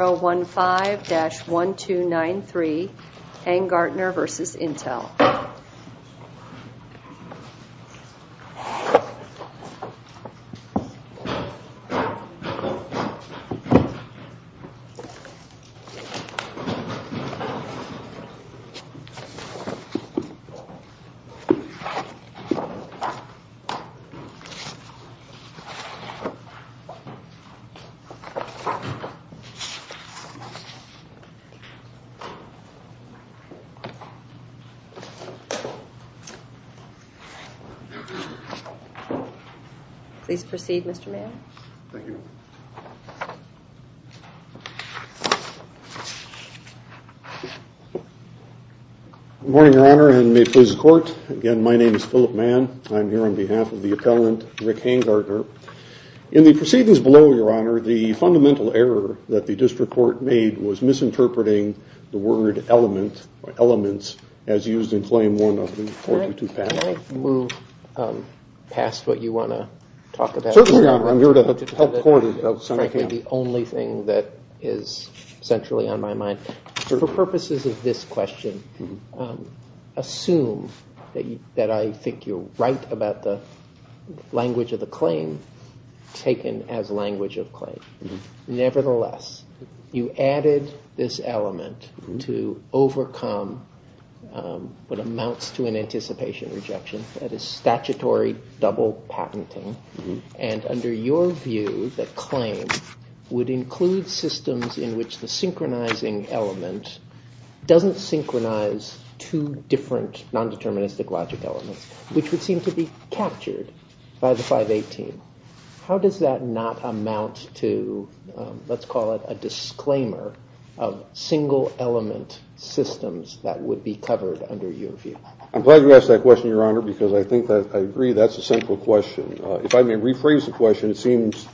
015-1293 Angartner v. Intel Please proceed, Mr. Mayor. Thank you, Your Honor. Good morning, Your Honor, and may it please the Court. Again, my name is Philip Mann. I'm here on behalf of the appellant, Rick Angartner. In the proceedings below, Your Honor, the fundamental error that the district court made was misinterpreting the word element, or elements, as used in Claim 1 of the 422 patent. Can I move past what you want to talk about? Certainly, Your Honor. I'm here to help the Court. Frankly, the only thing that is centrally on my mind. For purposes of this question, assume that I think you're right about the language of the claim taken as language of claim. Nevertheless, you added this element to overcome what amounts to an anticipation rejection, that is statutory double patenting. And under your view, the claim would include systems in which the synchronizing element doesn't synchronize two different nondeterministic logic elements, which would seem to be captured by the 518. How does that not amount to, let's call it a disclaimer, of single element systems that would be covered under your view? I'm glad you asked that question, Your Honor, because I agree that's a central question. If I may rephrase the question, it seems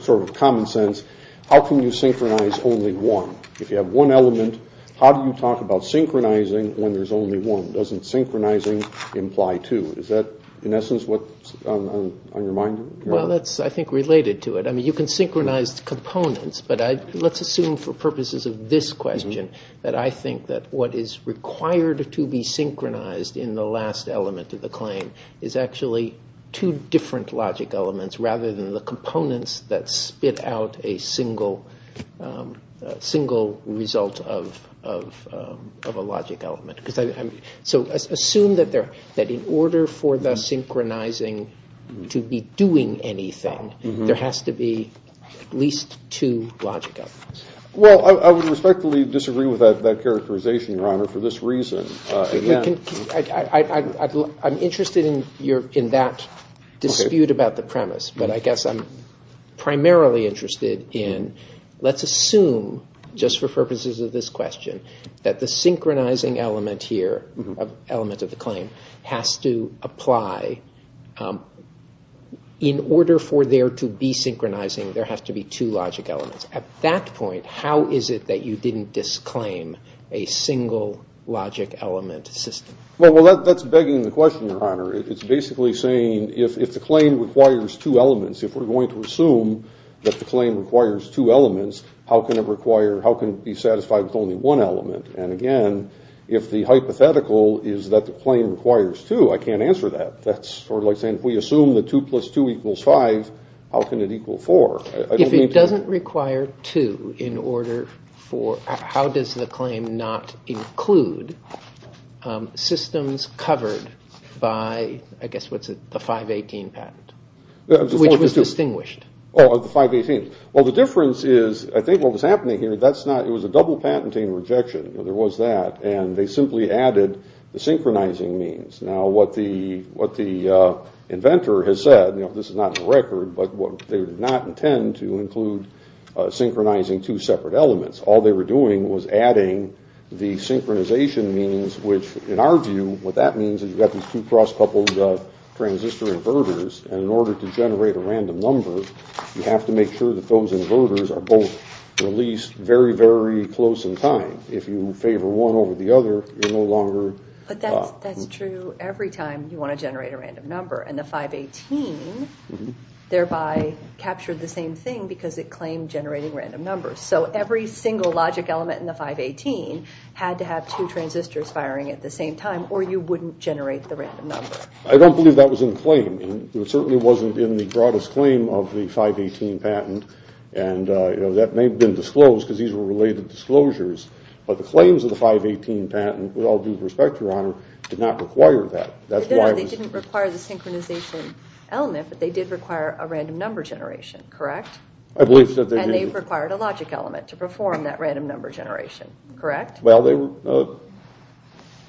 sort of common sense. How can you synchronize only one? If you have one element, how do you talk about synchronizing when there's only one? Doesn't synchronizing imply two? Is that, in essence, what's on your mind, Your Honor? Well, that's, I think, related to it. I mean, you can synchronize components, but let's assume for purposes of this question that I think that what is required to be synchronized in the last element of the claim is actually two different logic elements rather than the components that spit out a single result of a logic element. So assume that in order for the synchronizing to be doing anything, there has to be at least two logic elements. Well, I would respectfully disagree with that characterization, Your Honor, for this reason. I'm interested in that dispute about the premise, but I guess I'm primarily interested in let's assume, just for purposes of this question, that the synchronizing element here, element of the claim, has to apply. In order for there to be synchronizing, there has to be two logic elements. At that point, how is it that you didn't disclaim a single logic element system? Well, that's begging the question, Your Honor. It's basically saying if the claim requires two elements, if we're going to assume that the claim requires two elements, how can it be satisfied with only one element? And again, if the hypothetical is that the claim requires two, I can't answer that. That's sort of like saying if we assume that two plus two equals five, how can it equal four? If it doesn't require two in order for, how does the claim not include systems covered by, I guess, what's it, the 518 patent, which was distinguished? Oh, the 518. Well, the difference is, I think what was happening here, that's not, it was a double patenting rejection. There was that. And they simply added the synchronizing means. Now, what the inventor has said, this is not in the record, but they did not intend to include synchronizing two separate elements. All they were doing was adding the synchronization means, which in our view, what that means is you've got these two cross-coupled transistor inverters, and in order to generate a random number, you have to make sure that those inverters are both released very, very close in time. If you favor one over the other, you're no longer… But that's true every time you want to generate a random number, and the 518 thereby captured the same thing because it claimed generating random numbers. So every single logic element in the 518 had to have two transistors firing at the same time, or you wouldn't generate the random number. I don't believe that was in the claim. It certainly wasn't in the broadest claim of the 518 patent, and that may have been disclosed because these were related disclosures. But the claims of the 518 patent, with all due respect, Your Honor, did not require that. That's why… No, no, they didn't require the synchronization element, but they did require a random number generation, correct? I believe that they did. And they required a logic element to perform that random number generation, correct? Well, they were…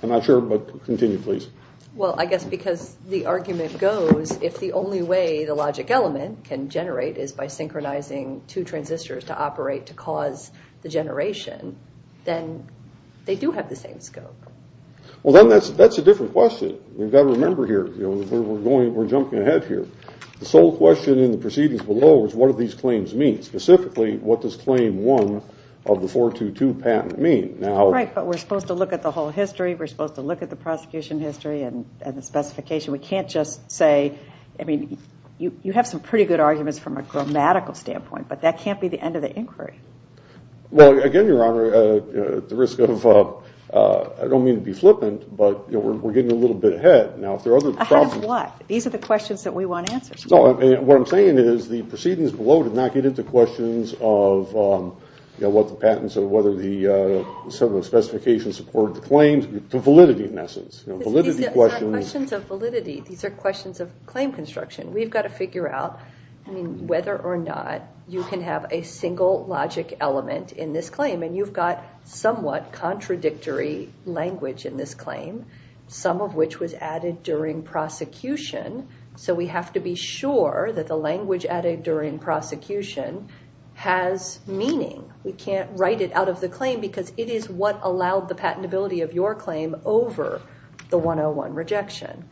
I'm not sure, but continue, please. Well, I guess because the argument goes, if the only way the logic element can generate is by synchronizing two transistors to operate to cause the generation, then they do have the same scope. Well, then that's a different question. We've got to remember here, we're jumping ahead here. The sole question in the proceedings below is what do these claims mean? Specifically, what does claim one of the 422 patent mean? Right, but we're supposed to look at the whole history, we're supposed to look at the prosecution history and the specification. We can't just say, I mean, you have some pretty good arguments from a grammatical standpoint, but that can't be the end of the inquiry. Well, again, Your Honor, at the risk of… I don't mean to be flippant, but we're getting a little bit ahead. Ahead of what? These are the questions that we want answers to. No, what I'm saying is the proceedings below did not get into questions of what the patents or whether the specification supported the claims. The validity, in essence. These are questions of validity. These are questions of claim construction. We've got to figure out, I mean, whether or not you can have a single logic element in this claim. And you've got somewhat contradictory language in this claim, some of which was added during prosecution. So we have to be sure that the language added during prosecution has meaning. We can't write it out of the claim because it is what allowed the patentability of your claim over the 101 rejection.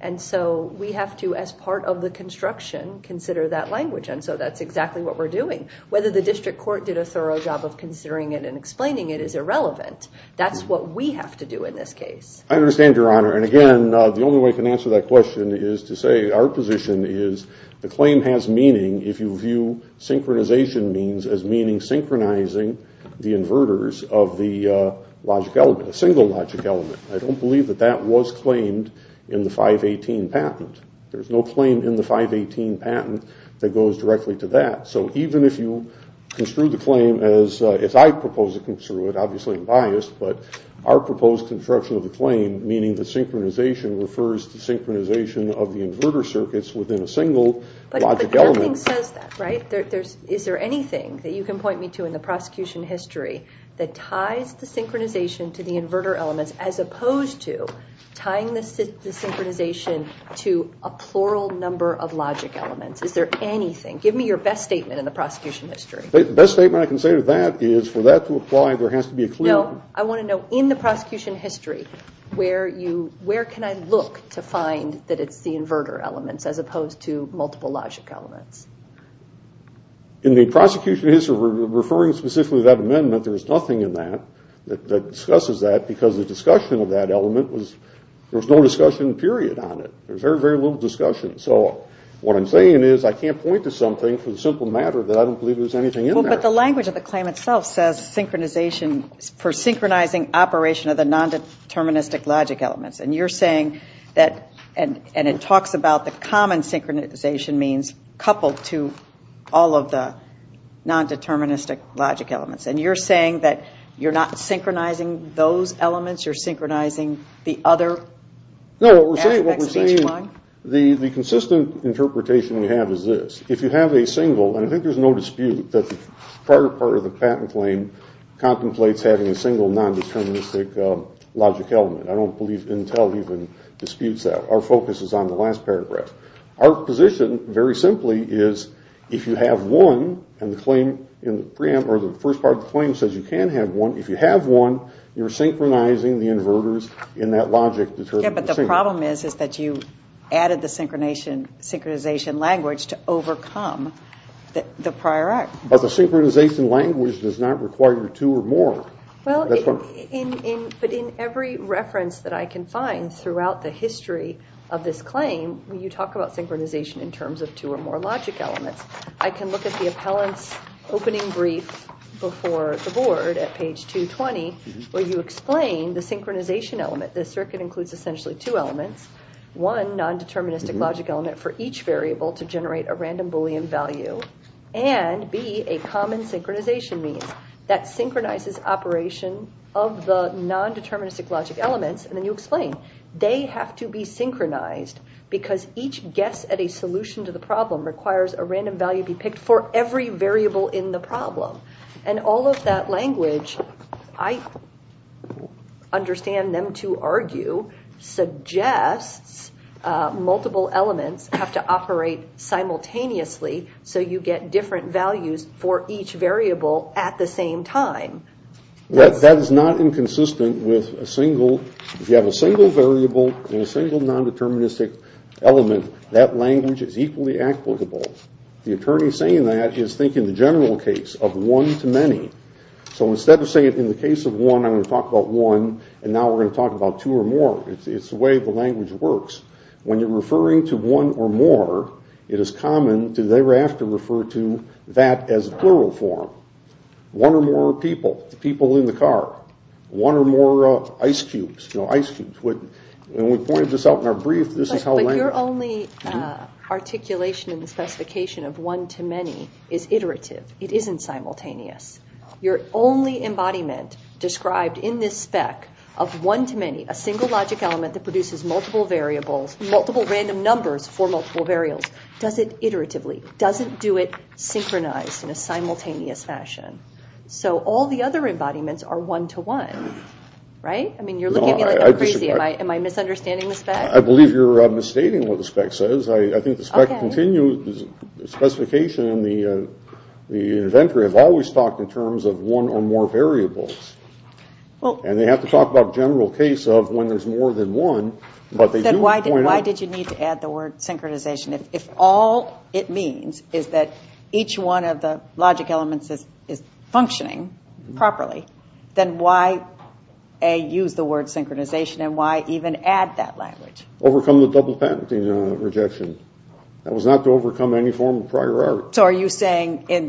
And so we have to, as part of the construction, consider that language. And so that's exactly what we're doing. Whether the district court did a thorough job of considering it and explaining it is irrelevant. That's what we have to do in this case. I understand, Your Honor. And, again, the only way I can answer that question is to say our position is the claim has meaning if you view synchronization means as meaning synchronizing the inverters of the logic element, a single logic element. I don't believe that that was claimed in the 518 patent. There's no claim in the 518 patent that goes directly to that. So even if you construe the claim as I propose to construe it, obviously I'm biased, but our proposed construction of the claim, meaning the synchronization, refers to synchronization of the inverter circuits within a single logic element. But nothing says that, right? Is there anything that you can point me to in the prosecution history that ties the synchronization to the inverter elements as opposed to tying the synchronization to a plural number of logic elements? Is there anything? Give me your best statement in the prosecution history. The best statement I can say to that is for that to apply, there has to be a clear… In the prosecution history referring specifically to that amendment, there is nothing in that that discusses that because the discussion of that element was… There was no discussion, period, on it. There was very, very little discussion. So what I'm saying is I can't point to something for the simple matter that I don't believe there's anything in there. But the language of the claim itself says synchronization for synchronizing operation of the nondeterministic logic elements. And you're saying that, and it talks about the common synchronization means coupled to all of the nondeterministic logic elements. And you're saying that you're not synchronizing those elements? You're synchronizing the other aspects of each one? No, what we're saying, the consistent interpretation we have is this. If you have a single, and I think there's no dispute that the prior part of the patent claim contemplates having a single nondeterministic logic element. I don't believe Intel even disputes that. Our focus is on the last paragraph. Our position, very simply, is if you have one, and the claim in the preamble, or the first part of the claim says you can have one, if you have one, you're synchronizing the inverters in that logic… Yeah, but the problem is that you added the synchronization language to overcome the prior act. But the synchronization language does not require two or more. Well, but in every reference that I can find throughout the history of this claim, you talk about synchronization in terms of two or more logic elements. I can look at the appellant's opening brief before the board at page 220, where you explain the synchronization element. The circuit includes essentially two elements, one nondeterministic logic element for each variable to generate a random Boolean value, and B, a common synchronization mean. That synchronizes operation of the nondeterministic logic elements, and then you explain. They have to be synchronized because each guess at a solution to the problem requires a random value be picked for every variable in the problem. And all of that language, I understand them to argue, suggests multiple elements have to operate simultaneously so you get different values for each variable at the same time. Well, that is not inconsistent with a single – if you have a single variable and a single nondeterministic element, that language is equally applicable. The attorney saying that is thinking the general case of one to many. So instead of saying in the case of one, I'm going to talk about one, and now we're going to talk about two or more, it's the way the language works. When you're referring to one or more, it is common to thereafter refer to that as plural form. One or more people, the people in the car. One or more ice cubes, you know, ice cubes. When we pointed this out in our brief, this is how language – But your only articulation in the specification of one to many is iterative. It isn't simultaneous. Your only embodiment described in this spec of one to many, a single logic element that produces multiple variables, multiple random numbers for multiple variables, does it iteratively. Does it do it synchronized in a simultaneous fashion? So all the other embodiments are one to one, right? I mean, you're looking at me like I'm crazy. Am I misunderstanding the spec? I believe you're misstating what the spec says. I think the specification in the inventory has always talked in terms of one or more variables. And they have to talk about the general case of when there's more than one, but they do point out – Then why did you need to add the word synchronization? If all it means is that each one of the logic elements is functioning properly, then why use the word synchronization and why even add that language? Overcome the double patenting rejection. That was not to overcome any form of prior art. So are you saying in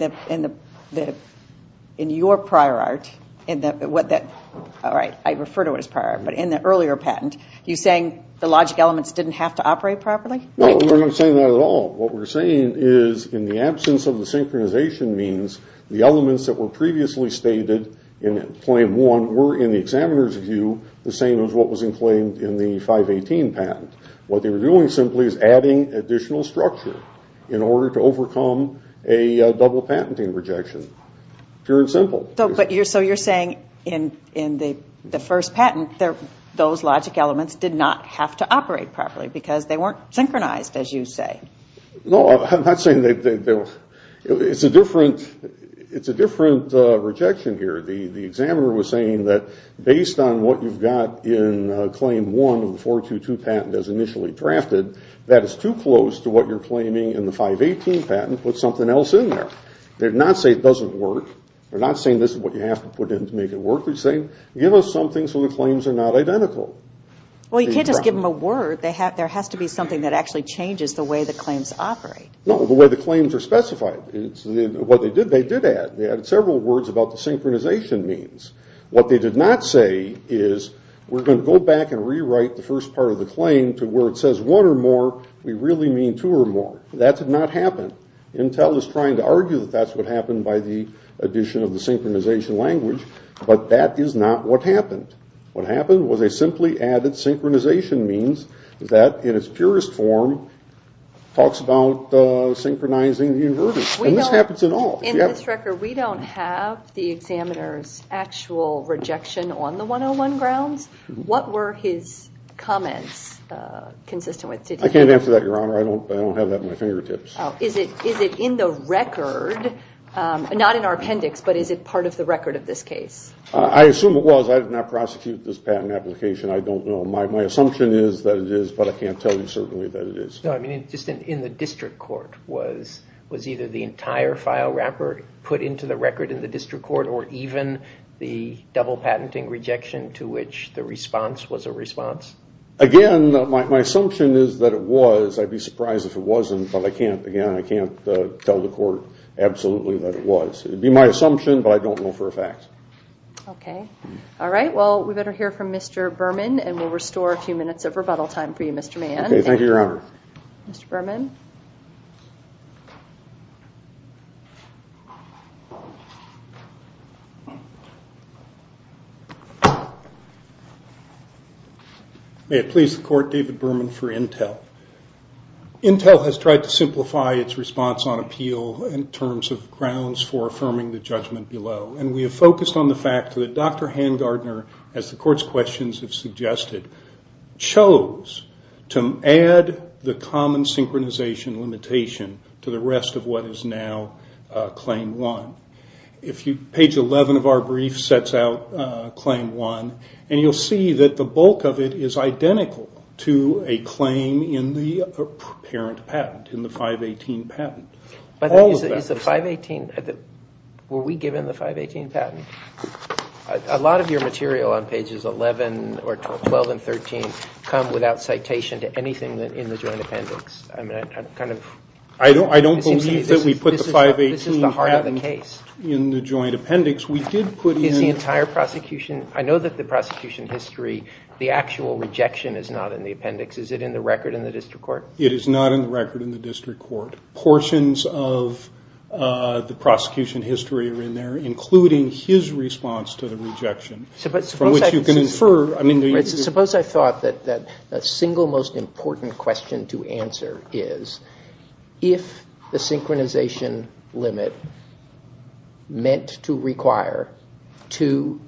your prior art – All right, I refer to it as prior art, but in the earlier patent, are you saying the logic elements didn't have to operate properly? No, we're not saying that at all. What we're saying is in the absence of the synchronization means the elements that were previously stated in claim one were, in the examiner's view, the same as what was in claim in the 518 patent. What they were doing simply is adding additional structure in order to overcome a double patenting rejection. Pure and simple. So you're saying in the first patent, those logic elements did not have to operate properly because they weren't synchronized, as you say. No, I'm not saying they were. It's a different rejection here. The examiner was saying that based on what you've got in claim one of the 422 patent as initially drafted, that is too close to what you're claiming in the 518 patent with something else in there. They're not saying it doesn't work. They're not saying this is what you have to put in to make it work. They're saying give us something so the claims are not identical. Well, you can't just give them a word. There has to be something that actually changes the way the claims operate. No, the way the claims are specified. What they did, they did add. They added several words about the synchronization means. What they did not say is we're going to go back and rewrite the first part of the claim to where it says one or more, we really mean two or more. That did not happen. Intel is trying to argue that that's what happened by the addition of the synchronization language, but that is not what happened. What happened was they simply added synchronization means, that in its purest form talks about synchronizing the inverters. This happens in all. In this record, we don't have the examiner's actual rejection on the 101 grounds. What were his comments consistent with? I can't answer that, Your Honor. I don't have that at my fingertips. Is it in the record, not in our appendix, but is it part of the record of this case? I assume it was. I did not prosecute this patent application. I don't know. My assumption is that it is, but I can't tell you certainly that it is. Just in the district court, was either the entire file wrapper put into the record in the district court or even the double patenting rejection to which the response was a response? Again, my assumption is that it was. I'd be surprised if it wasn't, but again, I can't tell the court absolutely that it was. It would be my assumption, but I don't know for a fact. Okay. All right. Well, we better hear from Mr. Berman, and we'll restore a few minutes of rebuttal time for you, Mr. Mann. Okay. Thank you, Your Honor. Mr. Berman. May it please the Court, David Berman for Intel. Intel has tried to simplify its response on appeal in terms of grounds for affirming the judgment below, and we have focused on the fact that Dr. Hangardner, as the Court's questions have suggested, chose to add the common synchronization limitation to the rest of what is now Claim 1. Page 11 of our brief sets out Claim 1, and you'll see that the bulk of it is identical to a claim in the parent patent, in the 518 patent. By the way, is the 518 – were we given the 518 patent? A lot of your material on pages 11 or 12 and 13 come without citation to anything in the joint appendix. I mean, I'm kind of – I don't believe that we put the 518 patent in the joint appendix. Is the entire prosecution – I know that the prosecution history, the actual rejection is not in the appendix. Is it in the record in the district court? It is not in the record in the district court. Portions of the prosecution history are in there, including his response to the rejection, from which you can infer – Suppose I thought that the single most important question to answer is, if the synchronization limit meant to require two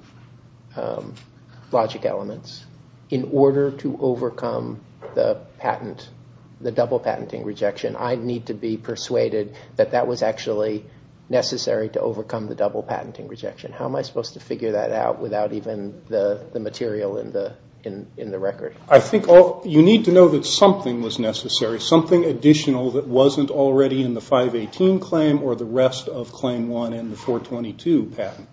logic elements in order to overcome the double patenting rejection, I need to be persuaded that that was actually necessary to overcome the double patenting rejection. How am I supposed to figure that out without even the material in the record? I think you need to know that something was necessary, something additional that wasn't already in the 518 claim or the rest of Claim 1 and the 422 patent.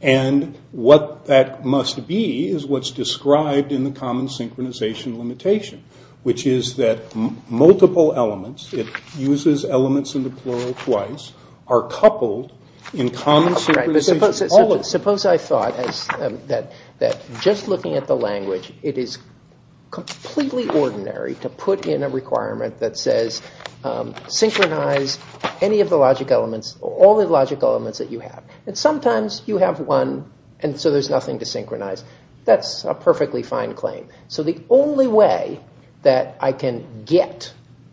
And what that must be is what's described in the common synchronization limitation, which is that multiple elements – it uses elements in the plural twice – are coupled in common synchronization. Suppose I thought that just looking at the language, it is completely ordinary to put in a requirement that says, synchronize any of the logic elements, all the logic elements that you have. And sometimes you have one and so there's nothing to synchronize. That's a perfectly fine claim. So the only way that I can get,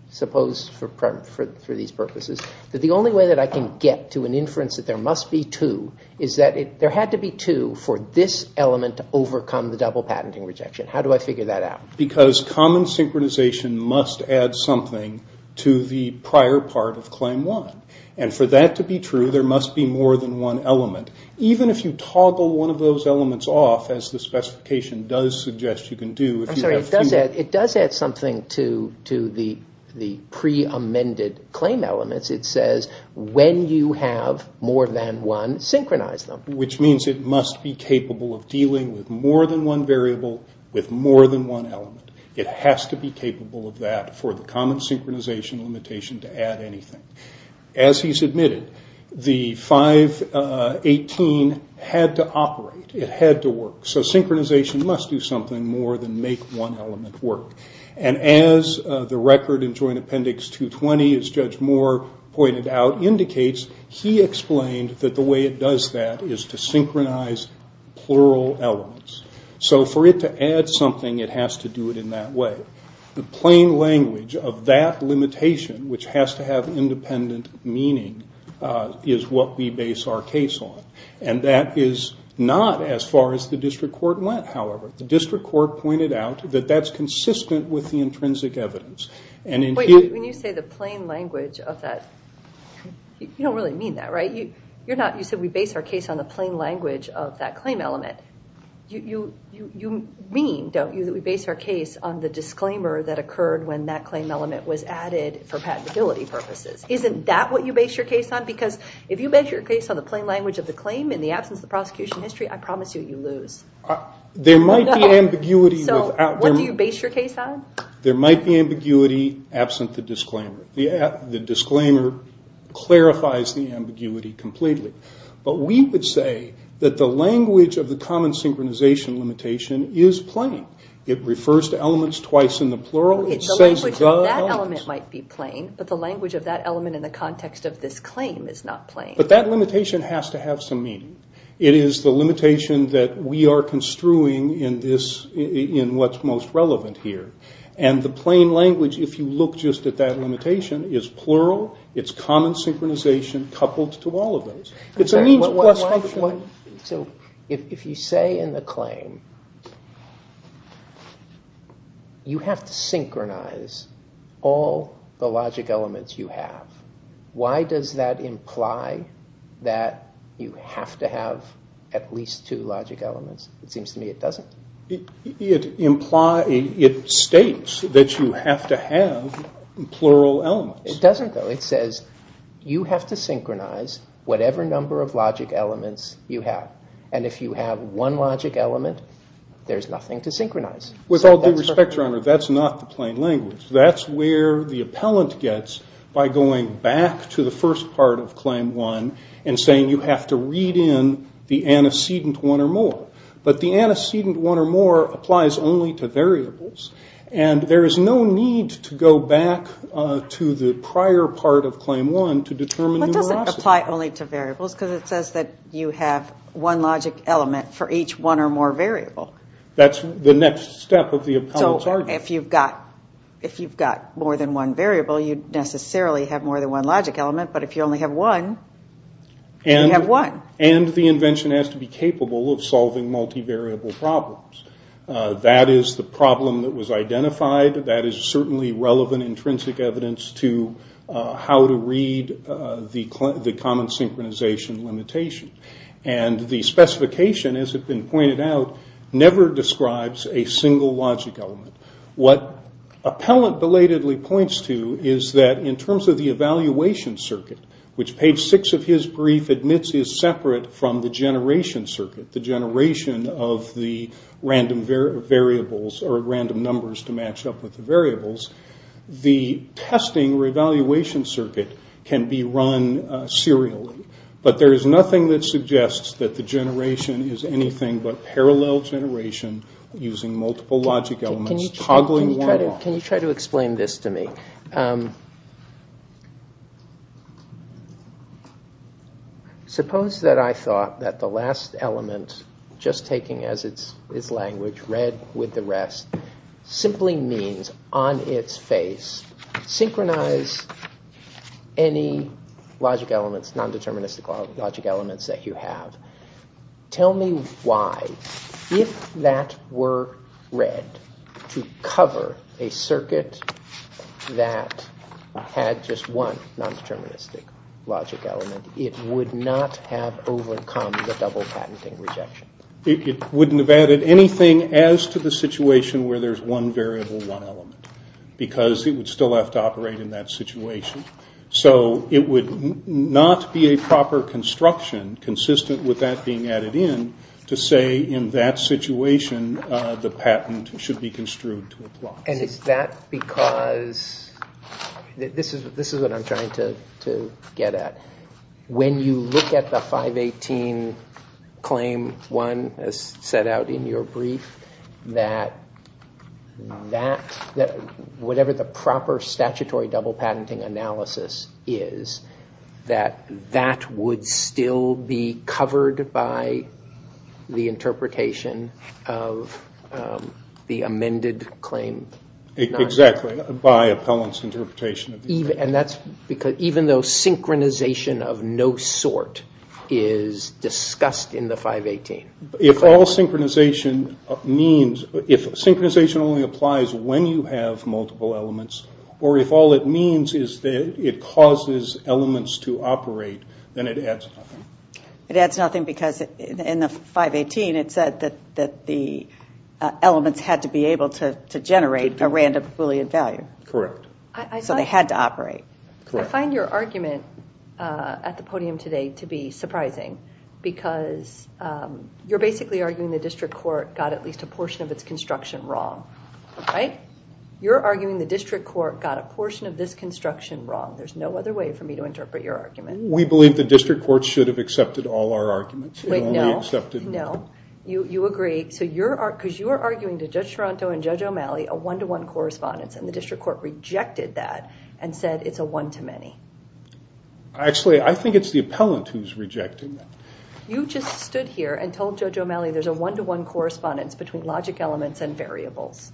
suppose for these purposes, that the only way that I can get to an inference that there must be two is that there had to be two for this element to overcome the double patenting rejection. How do I figure that out? Because common synchronization must add something to the prior part of Claim 1. And for that to be true, there must be more than one element. Even if you toggle one of those elements off, as the specification does suggest you can do, I'm sorry, it does add something to the pre-amended claim elements. It says when you have more than one, synchronize them. Which means it must be capable of dealing with more than one variable with more than one element. It has to be capable of that for the common synchronization limitation to add anything. As he's admitted, the 518 had to operate. It had to work. So synchronization must do something more than make one element work. And as the record in Joint Appendix 220, as Judge Moore pointed out, indicates, he explained that the way it does that is to synchronize plural elements. So for it to add something, it has to do it in that way. The plain language of that limitation, which has to have independent meaning, is what we base our case on. And that is not as far as the district court went, however. The district court pointed out that that's consistent with the intrinsic evidence. When you say the plain language of that, you don't really mean that, right? You said we base our case on the plain language of that claim element. You mean, don't you, that we base our case on the disclaimer that occurred when that claim element was added for patentability purposes. Isn't that what you base your case on? Because if you base your case on the plain language of the claim in the absence of the prosecution history, I promise you, you lose. There might be ambiguity. So what do you base your case on? There might be ambiguity absent the disclaimer. The disclaimer clarifies the ambiguity completely. But we would say that the language of the common synchronization limitation is plain. It refers to elements twice in the plural. That element might be plain, but the language of that element in the context of this claim is not plain. But that limitation has to have some meaning. It is the limitation that we are construing in what's most relevant here. And the plain language, if you look just at that limitation, is plural. It's common synchronization coupled to all of those. So if you say in the claim, you have to synchronize all the logic elements you have, why does that imply that you have to have at least two logic elements? It seems to me it doesn't. It states that you have to have plural elements. It doesn't, though. It says you have to synchronize whatever number of logic elements you have. And if you have one logic element, there's nothing to synchronize. With all due respect, Your Honor, that's not the plain language. That's where the appellant gets by going back to the first part of Claim 1 and saying you have to read in the antecedent one or more. But the antecedent one or more applies only to variables. And there is no need to go back to the prior part of Claim 1 to determine numerosity. But does it apply only to variables? Because it says that you have one logic element for each one or more variable. That's the next step of the appellant's argument. So if you've got more than one variable, you necessarily have more than one logic element. But if you only have one, you have one. And the invention has to be capable of solving multivariable problems. That is the problem that was identified. That is certainly relevant, intrinsic evidence to how to read the common synchronization limitation. And the specification, as has been pointed out, never describes a single logic element. What appellant belatedly points to is that in terms of the evaluation circuit, which page 6 of his brief admits is separate from the generation circuit, the generation of the random variables or random numbers to match up with the variables, the testing or evaluation circuit can be run serially. But there is nothing that suggests that the generation is anything but parallel generation using multiple logic elements toggling one or more. Can you try to explain this to me? Suppose that I thought that the last element, just taking as its language, read with the rest, simply means on its face, synchronize any logic elements, non-deterministic logic elements that you have. Tell me why, if that were read to cover a circuit that had just one non-deterministic logic element, it would not have overcome the double patenting rejection. It wouldn't have added anything as to the situation where there is one variable, one element, because it would still have to operate in that situation. So it would not be a proper construction consistent with that being added in to say in that situation the patent should be construed to apply. Is that because, this is what I'm trying to get at, when you look at the 518 claim 1 as set out in your brief, that whatever the proper statutory double patenting analysis is, that that would still be covered by the interpretation of the amended claim? Exactly, by appellant's interpretation. Even though synchronization of no sort is discussed in the 518? If synchronization only applies when you have multiple elements, or if all it means is that it causes elements to operate, then it adds nothing. It adds nothing because in the 518 it said that the elements had to be able to generate a random Boolean value. Correct. So they had to operate. Correct. I find your argument at the podium today to be surprising because you're basically arguing the district court got at least a portion of its construction wrong. Right? You're arguing the district court got a portion of this construction wrong. There's no other way for me to interpret your argument. We believe the district court should have accepted all our arguments. Wait, no. No. You agree, because you are arguing to Judge Toronto and Judge O'Malley a one-to-one correspondence and the district court rejected that and said it's a one-to-many. Actually, I think it's the appellant who's rejecting that. You just stood here and told Judge O'Malley there's a one-to-one correspondence between logic elements and variables,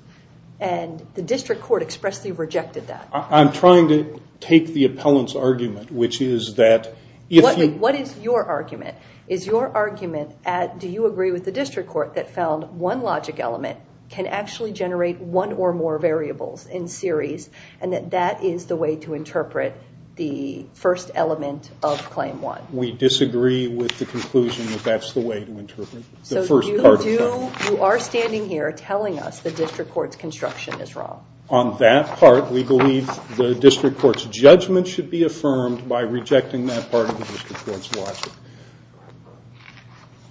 and the district court expressly rejected that. I'm trying to take the appellant's argument, which is that if you... What is your argument? Is your argument, do you agree with the district court that found one logic element can actually generate one or more variables in series, and that that is the way to interpret the first element of Claim 1? We disagree with the conclusion that that's the way to interpret the first part. So you are standing here telling us the district court's construction is wrong. On that part, we believe the district court's judgment should be affirmed by rejecting that part of the district court's logic.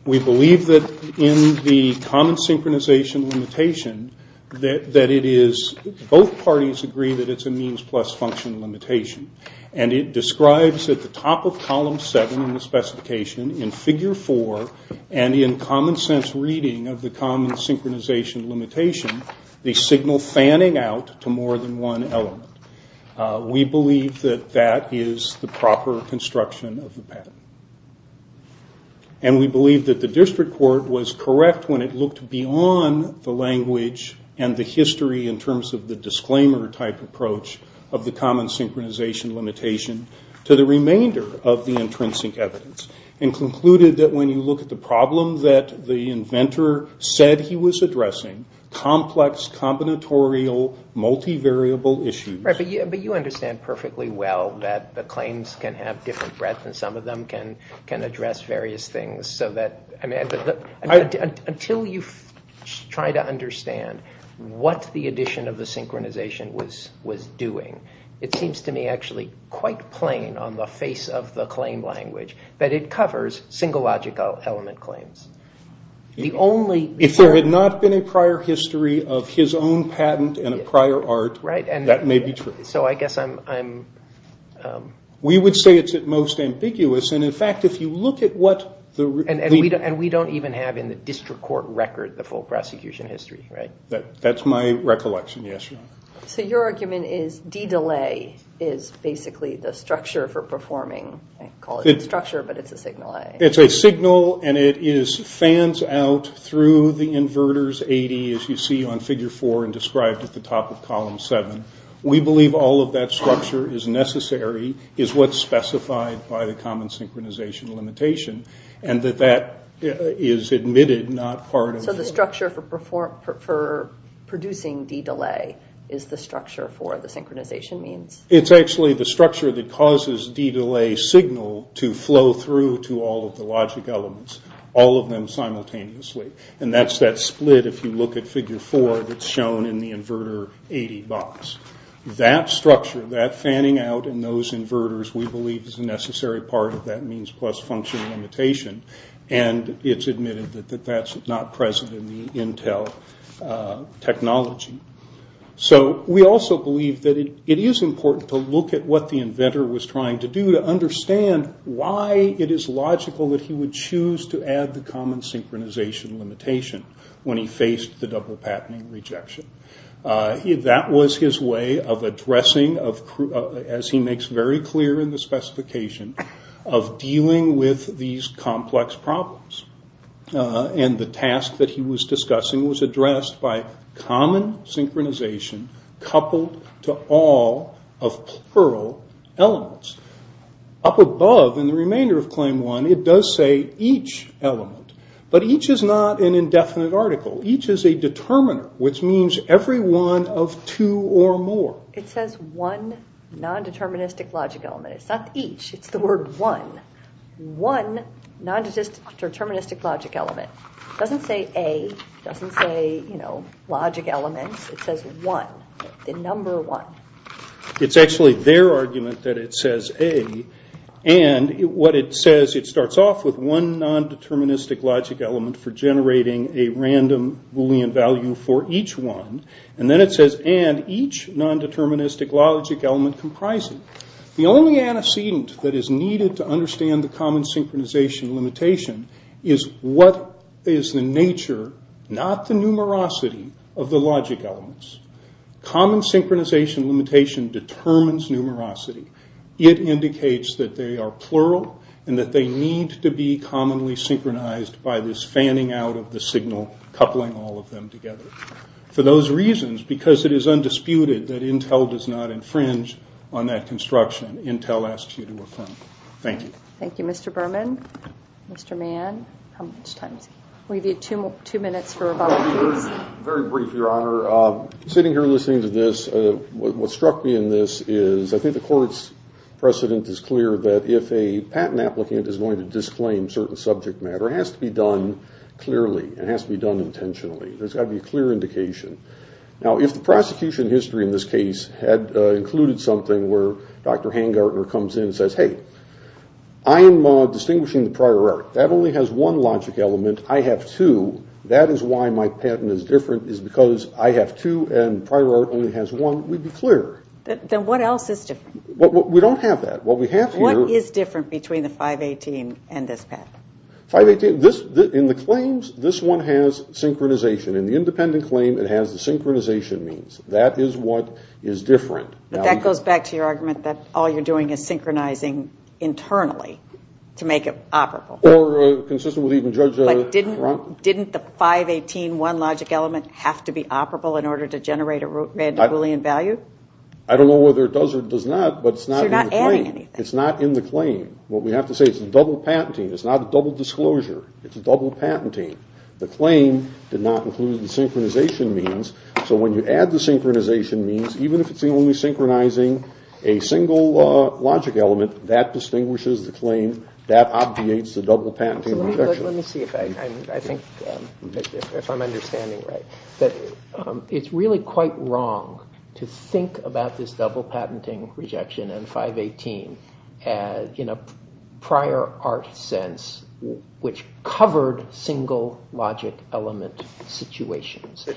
We believe that in the common synchronization limitation that it is... Both parties agree that it's a means plus function limitation, and it describes at the top of Column 7 in the specification in Figure 4 and in common sense reading of the common synchronization limitation the signal fanning out to more than one element. We believe that that is the proper construction of the patent. And we believe that the district court was correct when it looked beyond the language and the history in terms of the disclaimer type approach of the common synchronization limitation to the remainder of the intrinsic evidence, and concluded that when you look at the problem that the inventor said he was addressing, complex, combinatorial, multivariable issues... But you understand perfectly well that the claims can have different breadth and some of them can address various things. Until you try to understand what the addition of the synchronization was doing, it seems to me actually quite plain on the face of the claim language that it covers single logical element claims. If there had not been a prior history of his own patent and a prior art, that may be true. So I guess I'm... We would say it's at most ambiguous, and in fact if you look at what... And we don't even have in the district court record the full prosecution history, right? That's my recollection, yes. So your argument is D-Delay is basically the structure for performing... I call it the structure, but it's a signal A. It's a signal, and it fans out through the inverters, 80, as you see on figure 4 and described at the top of column 7. We believe all of that structure is necessary, is what's specified by the common synchronization limitation, and that that is admitted not part of... So the structure for producing D-Delay is the structure for the synchronization means? It's actually the structure that causes D-Delay signal to flow through to all of the logic elements, all of them simultaneously, and that's that split if you look at figure 4 that's shown in the inverter 80 box. That structure, that fanning out and those inverters, we believe is a necessary part of that means plus function limitation, and it's admitted that that's not present in the Intel technology. So we also believe that it is important to look at what the inventor was trying to do to understand why it is logical that he would choose to add the common synchronization limitation when he faced the double patenting rejection. That was his way of addressing, as he makes very clear in the specification, of dealing with these complex problems, and the task that he was discussing was addressed by common synchronization coupled to all of plural elements. Up above, in the remainder of Claim 1, it does say each element, but each is not an indefinite article. Each is a determiner, which means every one of two or more. It says one non-deterministic logic element. It's not each, it's the word one. One non-deterministic logic element. It doesn't say A, it doesn't say logic elements. It says one, the number one. It's actually their argument that it says A, and what it says, it starts off with one non-deterministic logic element for generating a random Boolean value for each one, and then it says and each non-deterministic logic element comprising. The only antecedent that is needed to understand the common synchronization limitation is what is the nature, not the numerosity, of the logic elements. Common synchronization limitation determines numerosity. It indicates that they are plural, and that they need to be commonly synchronized by this fanning out of the signal, coupling all of them together. For those reasons, because it is undisputed that Intel does not infringe on that construction, Intel asks you to affirm. Thank you. Thank you, Mr. Berman. Mr. Mann, how much time do we have? We have two minutes for rebuttals. Very brief, Your Honor. Sitting here listening to this, what struck me in this is, I think the court's precedent is clear that if a patent applicant is going to disclaim certain subject matter, it has to be done clearly. It has to be done intentionally. There's got to be a clear indication. Now, if the prosecution history in this case had included something where Dr. Hangartner comes in and says, hey, I am distinguishing the prior art. That only has one logic element. I have two. That is why my patent is different, is because I have two and prior art only has one. We'd be clear. Then what else is different? We don't have that. What we have here – What is different between the 518 and this patent? In the claims, this one has synchronization. In the independent claim, it has the synchronization means. That is what is different. But that goes back to your argument that all you're doing is synchronizing internally to make it operable. Or consistent with even Judge Cronk. Didn't the 518 one logic element have to be operable in order to generate a random Boolean value? I don't know whether it does or does not, but it's not in the claim. So you're not adding anything. It's not in the claim. What we have to say is it's double patenting. It's not a double disclosure. It's double patenting. The claim did not include the synchronization means. So when you add the synchronization means, even if it's only synchronizing a single logic element, that distinguishes the claim. That obviates the double patenting rejection. Let me see if I'm understanding right. It's really quite wrong to think about this double patenting rejection and 518 in a prior art sense, which covered single logic element situations.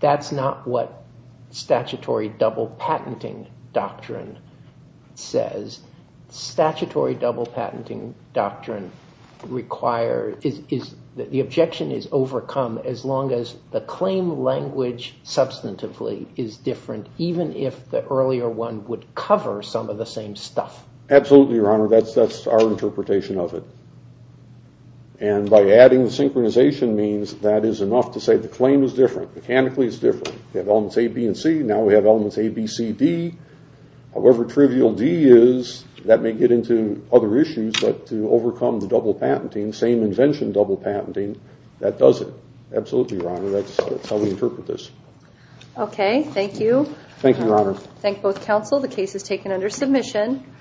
That's not what statutory double patenting doctrine says. Statutory double patenting doctrine requires that the objection is overcome as long as the claim language substantively is different, even if the earlier one would cover some of the same stuff. Absolutely, Your Honor. That's our interpretation of it. And by adding the synchronization means, that is enough to say the claim is different. Mechanically it's different. We have elements A, B, and C. Now we have elements A, B, C, D. However trivial D is, that may get into other issues, but to overcome the double patenting, same invention double patenting, that does it. Absolutely, Your Honor. That's how we interpret this. Okay, thank you. Thank you, Your Honor. Thank both counsel. The case is taken under submission.